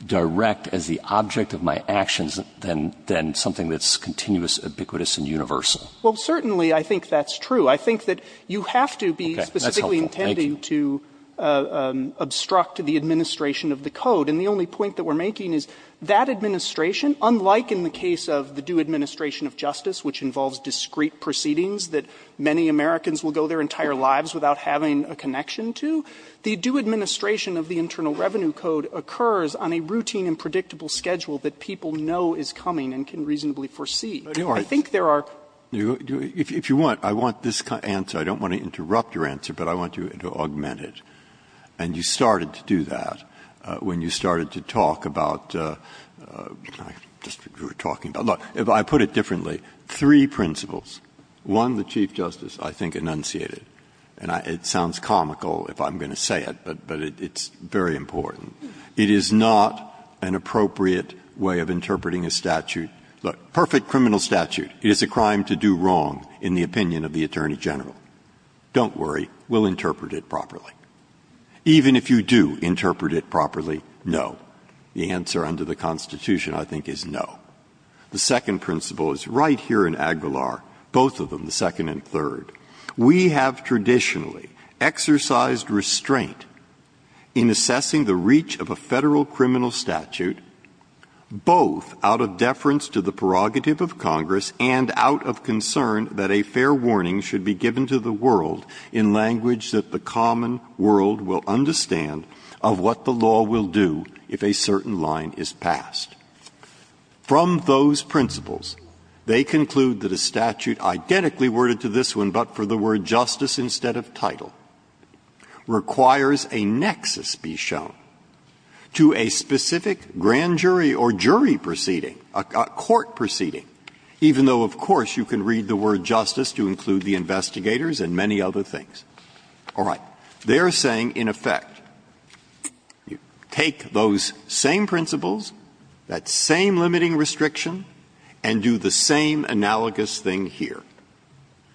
direct as the object of my actions than something that's continuous, ubiquitous, and universal? Well, certainly, I think that's true. I think that you have to be specifically intending to obstruct the administration of the code. And the only point that we're making is that administration, unlike in the case of the due administration of justice, which involves discrete proceedings that many Americans will go their entire lives without having a connection to, the due administration of the Internal Revenue Code occurs on a routine and predictable schedule that people know is coming and can reasonably foresee. I think there are — Breyer. If you want, I want this answer. I don't want to interrupt your answer, but I want you to augment it. And you started to do that when you started to talk about — just what we were talking about. Look, if I put it differently, three principles. One, the Chief Justice, I think, enunciated, and it sounds comical if I'm going to say it, but it's very important. It is not an appropriate way of interpreting a statute. Look, perfect criminal statute. It is a crime to do wrong, in the opinion of the Attorney General. Don't worry. We'll interpret it properly. Even if you do interpret it properly, no. The answer under the Constitution, I think, is no. The second principle is right here in Aguilar, both of them, the second and third. We have traditionally exercised restraint in assessing the reach of a Federal prerogative of Congress, and out of concern that a fair warning should be given to the world in language that the common world will understand of what the law will do if a certain line is passed. From those principles, they conclude that a statute identically worded to this one, but for the word justice instead of title, requires a nexus be shown to a specific grand jury or jury proceeding, a court proceeding, even though, of course, you can read the word justice to include the investigators and many other things. All right. They are saying, in effect, take those same principles, that same limiting restriction, and do the same analogous thing here.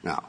Now,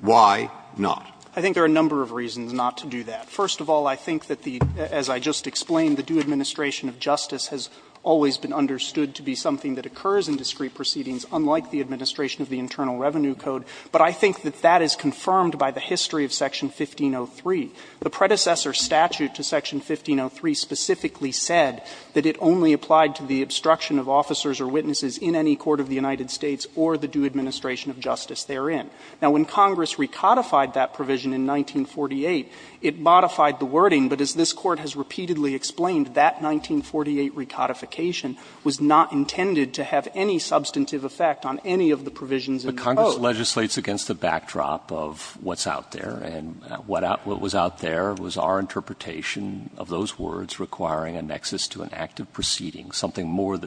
why not? I think there are a number of reasons not to do that. First of all, I think that the, as I just explained, the due administration of justice has always been understood to be something that occurs in discrete proceedings, unlike the administration of the Internal Revenue Code, but I think that that is confirmed by the history of Section 1503. The predecessor statute to Section 1503 specifically said that it only applied to the obstruction of officers or witnesses in any court of the United States or the due administration of justice therein. Now, when Congress recodified that provision in 1948, it modified the wording, but as this Court has repeatedly explained, that 1948 recodification was not intended to have any substantive effect on any of the provisions in the code. But Congress legislates against the backdrop of what's out there, and what was out there was our interpretation of those words requiring a nexus to an active proceeding, something more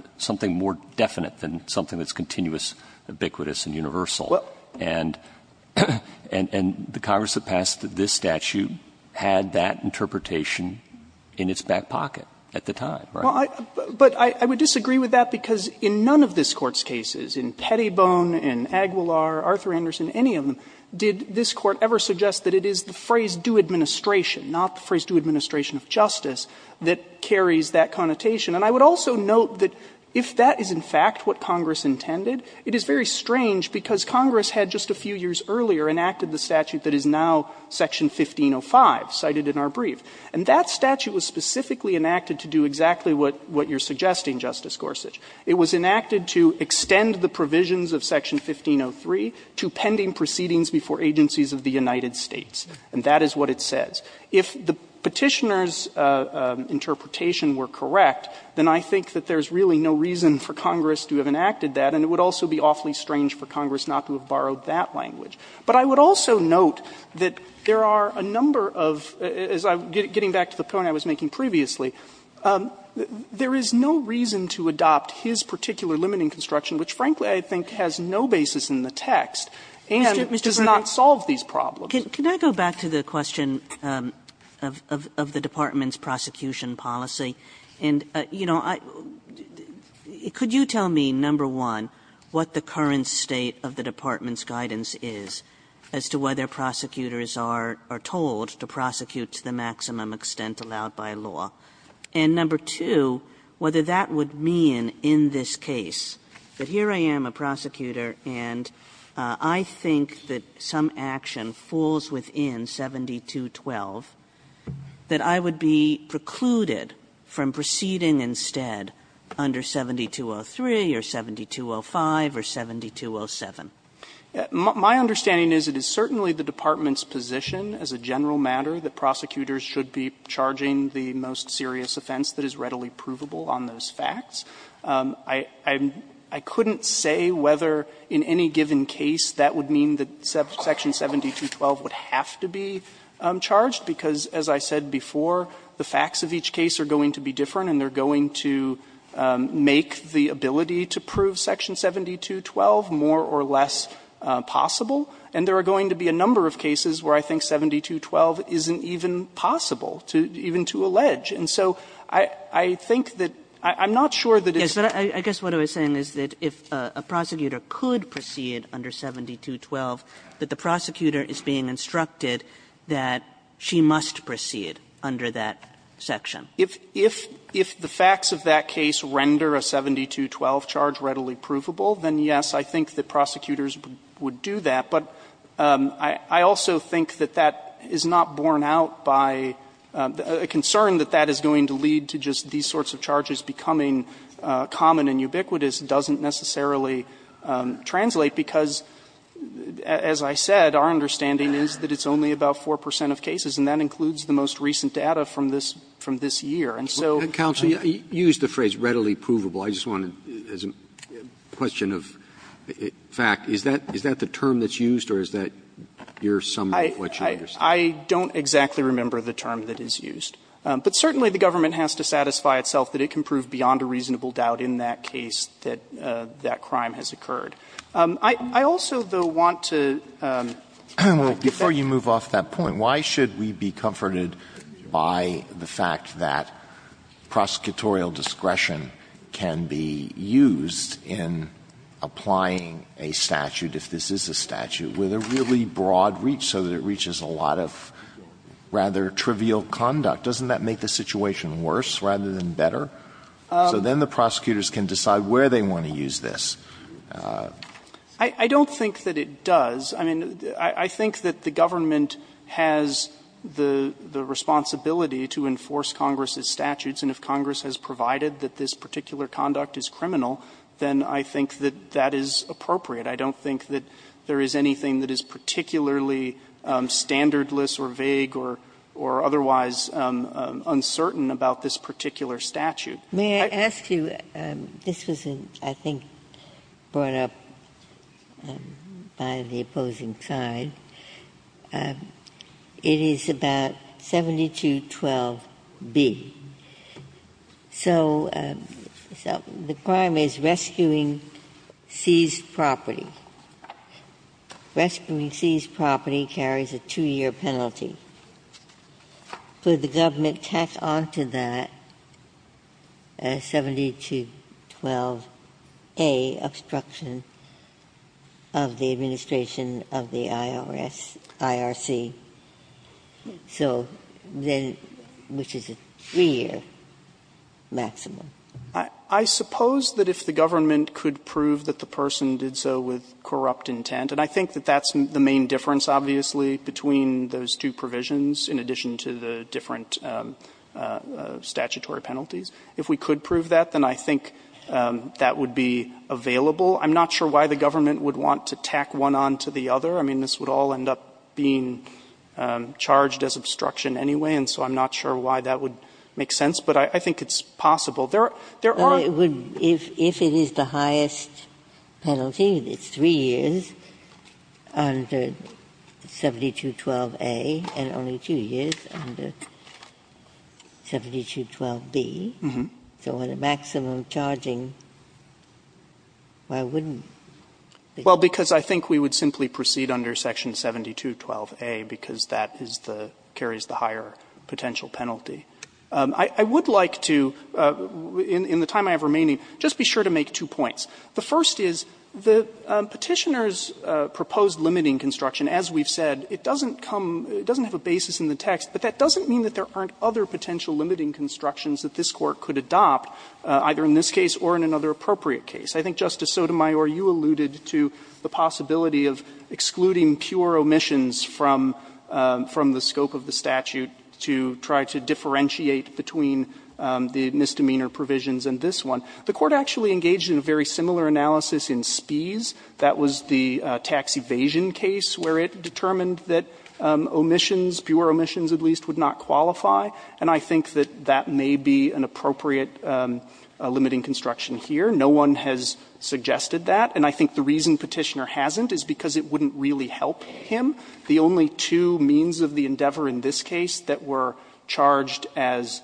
definite than something that's continuous, ubiquitous, and universal. And the Congress that passed this statute had that interpretation in its back pocket at the time, right? Well, but I would disagree with that, because in none of this Court's cases, in Pettybone, in Aguilar, Arthur Anderson, any of them, did this Court ever suggest that it is the phrase due administration, not the phrase due administration of justice, that carries that connotation. And I would also note that if that is, in fact, what Congress intended, it is very strange, because Congress had, just a few years earlier, enacted the statute that is now section 1505 cited in our brief. And that statute was specifically enacted to do exactly what you're suggesting, Justice Gorsuch. It was enacted to extend the provisions of section 1503 to pending proceedings before agencies of the United States, and that is what it says. If the Petitioner's interpretation were correct, then I think that there's really no reason for Congress to have enacted that, and it would also be awfully strange for Congress not to have borrowed that language. But I would also note that there are a number of, as I'm getting back to the point I was making previously, there is no reason to adopt his particular limiting construction, which, frankly, I think has no basis in the text, and does not solve these problems. Kagan, can I go back to the question of the Department's prosecution policy? And, you know, could you tell me, number one, what the current state of the Department's guidance is as to whether prosecutors are told to prosecute to the maximum extent allowed by law? And, number two, whether that would mean in this case that here I am, a prosecutor, and I think that some action falls within 7212, that I would be precluded from proceeding instead under 7203 or 7205 or 7207. My understanding is it is certainly the Department's position as a general matter that prosecutors should be charging the most serious offense that is readily provable on those facts. I couldn't say whether in any given case that would mean that section 7212 would have to be charged, because, as I said before, the facts of each case are going to be different and they're going to make the ability to prove section 7212 more or less possible. And there are going to be a number of cases where I think 7212 isn't even possible to even to allege. And so I think that – I'm not sure that it's – Kagan, I guess what I was saying is that if a prosecutor could proceed under 7212, that the prosecutor is being instructed that she must proceed under that section. If the facts of that case render a 7212 charge readily provable, then, yes, I think that prosecutors would do that. But I also think that that is not borne out by a concern that that is going to lead to just these sorts of charges becoming common and ubiquitous doesn't necessarily translate, because, as I said, our understanding is that it's only about 4 percent of cases, and that includes the most recent data from this – from this year. And so – Roberts, you used the phrase, readily provable. I just wanted, as a question of fact, is that – is that the term that's used or is that your summary of what you understand? I don't exactly remember the term that is used. But certainly, the government has to satisfy itself that it can prove beyond a reasonable doubt in that case that that crime has occurred. I also, though, want to – Alito, before you move off that point, why should we be comforted by the fact that prosecutorial discretion can be used in applying a statute, if this is a statute, with a really broad reach so that it reaches a lot of rather trivial conduct? Doesn't that make the situation worse rather than better? So then the prosecutors can decide where they want to use this. I don't think that it does. I mean, I think that the government has the responsibility to enforce Congress's statutes, and if Congress has provided that this particular conduct is criminal, then I think that that is appropriate. I don't think that there is anything that is particularly standardless or vague or otherwise uncertain about this particular statute. May I ask you – this was, I think, brought up by the opposing side – it is about 7212B. So the crime is rescuing seized property. Rescuing seized property carries a two-year penalty. Could the government tack on to that a 7212A obstruction of the administration of the IRS, IRC, so then – which is a three-year maximum? I suppose that if the government could prove that the person did so with corrupt intent – and I think that that's the main difference, obviously, between those two provisions in addition to the different statutory penalties – if we could prove that, then I think that would be available. I'm not sure why the government would want to tack one on to the other. I mean, this would all end up being charged as obstruction anyway, and so I'm not sure why that would make sense. But I think it's possible. There are – Ginsburg. If it is the highest penalty, it's three years under 7212A and only two years under 7212B, so with a maximum charging, why wouldn't it be? Well, because I think we would simply proceed under Section 7212A because that is the – carries the higher potential penalty. I would like to, in the time I have remaining, just be sure to make two points. The first is the Petitioner's proposed limiting construction, as we've said, it doesn't come – it doesn't have a basis in the text, but that doesn't mean that there aren't other potential limiting constructions that this Court could adopt, either in this case or in another appropriate case. I think, Justice Sotomayor, you alluded to the possibility of excluding pure omissions from the scope of the statute to try to differentiate between the misdemeanor provisions in this one. The Court actually engaged in a very similar analysis in Spies. That was the tax evasion case where it determined that omissions, pure omissions at least, would not qualify, and I think that that may be an appropriate limiting construction here. No one has suggested that, and I think the reason Petitioner hasn't is because it wouldn't really help him. The only two means of the endeavor in this case that were charged as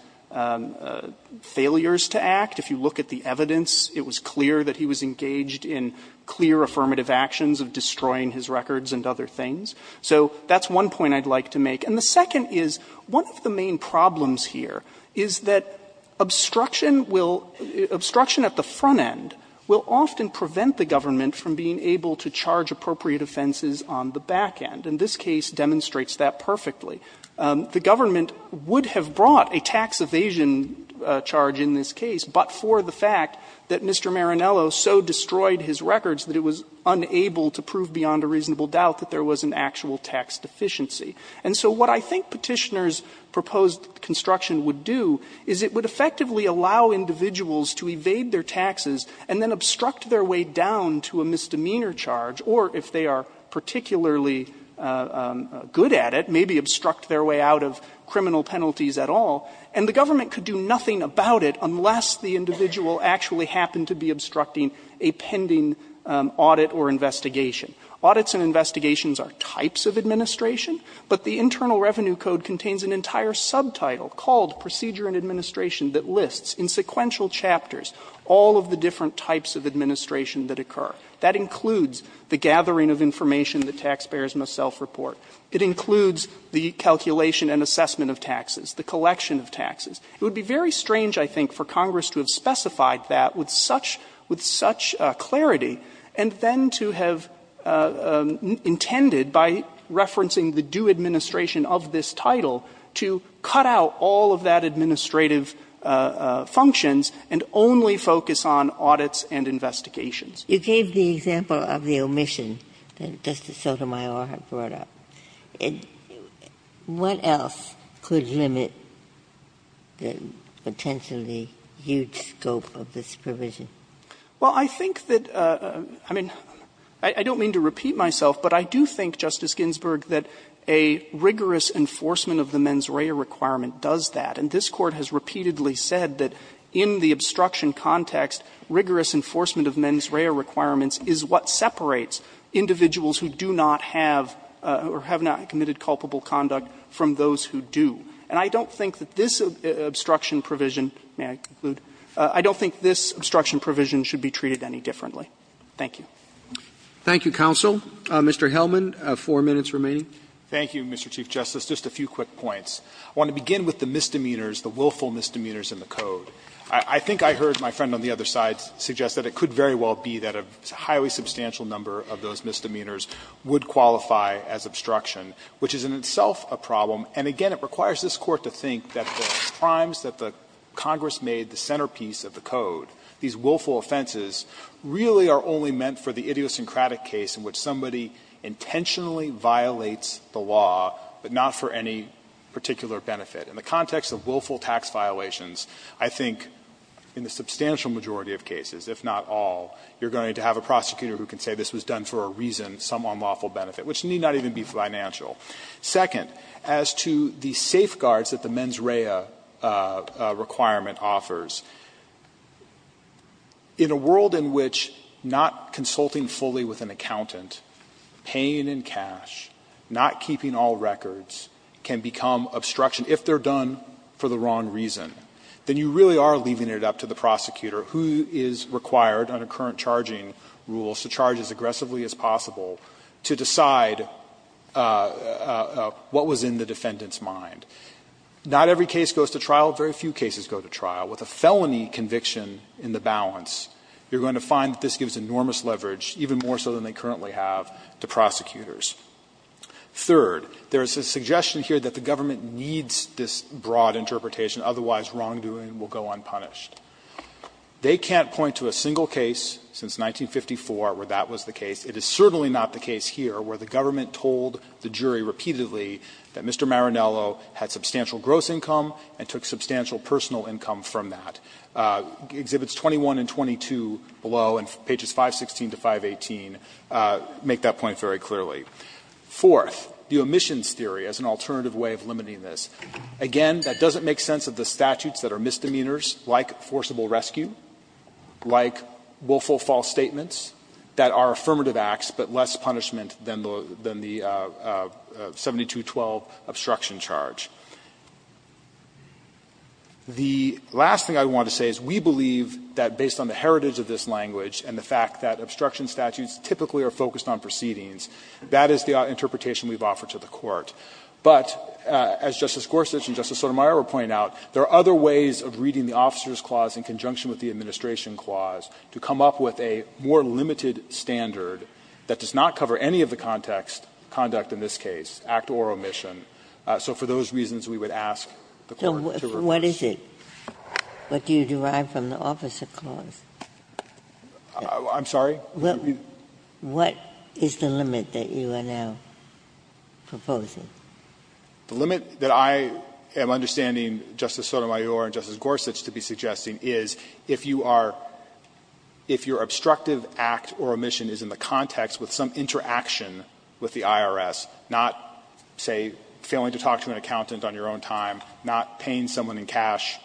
failures to act, if you look at the evidence, it was clear that he was engaged in clear affirmative actions of destroying his records and other things. So that's one point I'd like to make. And the second is, one of the main problems here is that obstruction will – obstruction at the front end will often prevent the government from being able to charge appropriate offenses on the back end. And this case demonstrates that perfectly. The government would have brought a tax evasion charge in this case, but for the fact that Mr. Marinello so destroyed his records that it was unable to prove beyond a reasonable doubt that there was an actual tax deficiency. And so what I think Petitioner's proposed construction would do is it would effectively allow individuals to evade their taxes and then obstruct their way down to a misdemeanor charge, or if they are particularly good at it, maybe obstruct their way out of criminal penalties at all. And the government could do nothing about it unless the individual actually happened to be obstructing a pending audit or investigation. Audits and investigations are types of administration, but the Internal Revenue Code contains an entire subtitle called Procedure and Administration that lists in sequential chapters all of the different types of administration that occur. That includes the gathering of information that taxpayers must self-report. It includes the calculation and assessment of taxes, the collection of taxes. It would be very strange, I think, for Congress to have specified that with such clarity and then to have intended, by referencing the due administration of this title, to cut out all of that administrative functions and only focus on audits and investigations. Ginsburg. You gave the example of the omission that Justice Sotomayor had brought up. What else could limit the potentially huge scope of this provision? Fisherman. Well, I think that, I mean, I don't mean to repeat myself, but I do think, Justice Ginsburg, that a rigorous enforcement of the mens rea requirement does that. And this Court has repeatedly said that in the obstruction context, rigorous enforcement of mens rea requirements is what separates individuals who do not have or have not committed culpable conduct from those who do. And I don't think that this obstruction provision, may I conclude, I don't think this obstruction provision should be treated any differently. Thank you. Thank you, counsel. Mr. Hellman, four minutes remaining. Thank you, Mr. Chief Justice. Just a few quick points. I want to begin with the misdemeanors, the willful misdemeanors in the Code. I think I heard my friend on the other side suggest that it could very well be that a highly substantial number of those misdemeanors would qualify as obstruction, which is in itself a problem. And again, it requires this Court to think that the crimes that the Congress made the centerpiece of the Code, these willful offenses, really are only meant for the idiosyncratic case in which somebody intentionally violates the law, but not for any particular benefit. In the context of willful tax violations, I think in the substantial majority of cases, if not all, you're going to have a prosecutor who can say this was done for a reason, some unlawful benefit, which need not even be financial. Second, as to the safeguards that the mens rea requirement offers, in a world in which not consulting fully with an accountant, paying in cash, not keeping all records can become obstruction if they're done for the wrong reason, then you really are leaving it up to the prosecutor, who is required under current charging rules to charge as aggressively as possible to decide what was in the defendant's mind. Not every case goes to trial. Very few cases go to trial. With a felony conviction in the balance, you're going to find that this gives enormous leverage, even more so than they currently have, to prosecutors. Third, there is a suggestion here that the government needs this broad interpretation, otherwise wrongdoing will go unpunished. They can't point to a single case since 1954 where that was the case. It is certainly not the case here where the government told the jury repeatedly that Mr. Marinello had substantial gross income and took substantial personal income from that. Exhibits 21 and 22 below and pages 516 to 518 make that point very clearly. Fourth, the omissions theory as an alternative way of limiting this. Again, that doesn't make sense of the statutes that are misdemeanors like forcible rescue, like willful false statements that are affirmative acts, but less punishment than the 7212 obstruction charge. The last thing I want to say is we believe that based on the heritage of this language and the fact that obstruction statutes typically are focused on proceedings, that is the interpretation we've offered to the Court. But as Justice Gorsuch and Justice Sotomayor point out, there are other ways of reading the Officer's Clause in conjunction with the Administration Clause to come up with a more limited standard that does not cover any of the context, conduct in this case, act or omission. Ginsburg. What is it? What do you derive from the Officer's Clause? I'm sorry? What is the limit that you are now proposing? The limit that I am understanding Justice Sotomayor and Justice Gorsuch to be suggesting is if you are – if your obstructive act or omission is in the context with some interaction with the IRS, not, say, failing to talk to an accountant on your own time, not paying someone in cash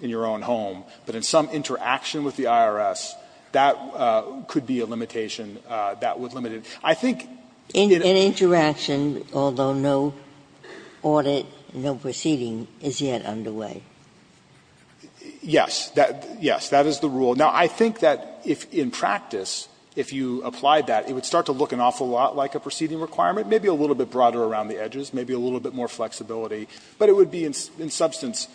in your own home, but in some interaction with the IRS, that could be a limitation that would limit it. I think it – An interaction, although no audit, no proceeding is yet underway. Yes. Yes. That is the rule. Now, I think that if in practice, if you applied that, it would start to look an awful lot like a proceeding requirement, maybe a little bit broader around the edges, maybe a little bit more flexibility, but it would be, in substance,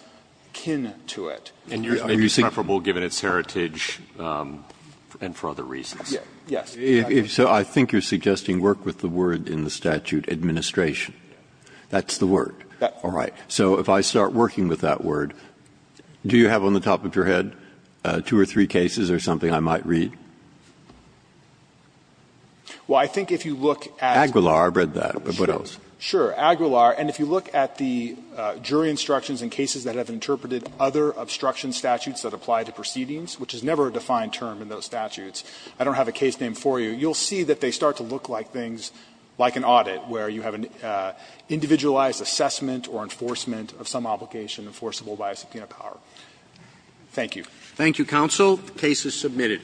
kin to it. And you're saying – And it's preferable given its heritage and for other reasons. Yes. So I think you're suggesting work with the word in the statute, administration. That's the word. All right. So if I start working with that word, do you have on the top of your head two or three cases or something I might read? Well, I think if you look at – Aguilar, I've read that, but what else? Sure. Aguilar. And if you look at the jury instructions in cases that have interpreted other obstruction statutes that apply to proceedings, which is never a defined term in those statutes – I don't have a case name for you – you'll see that they start to look like things, like an audit, where you have an individualized assessment or enforcement of some obligation enforceable by a subpoena power. Thank you. Thank you, counsel. The case is submitted.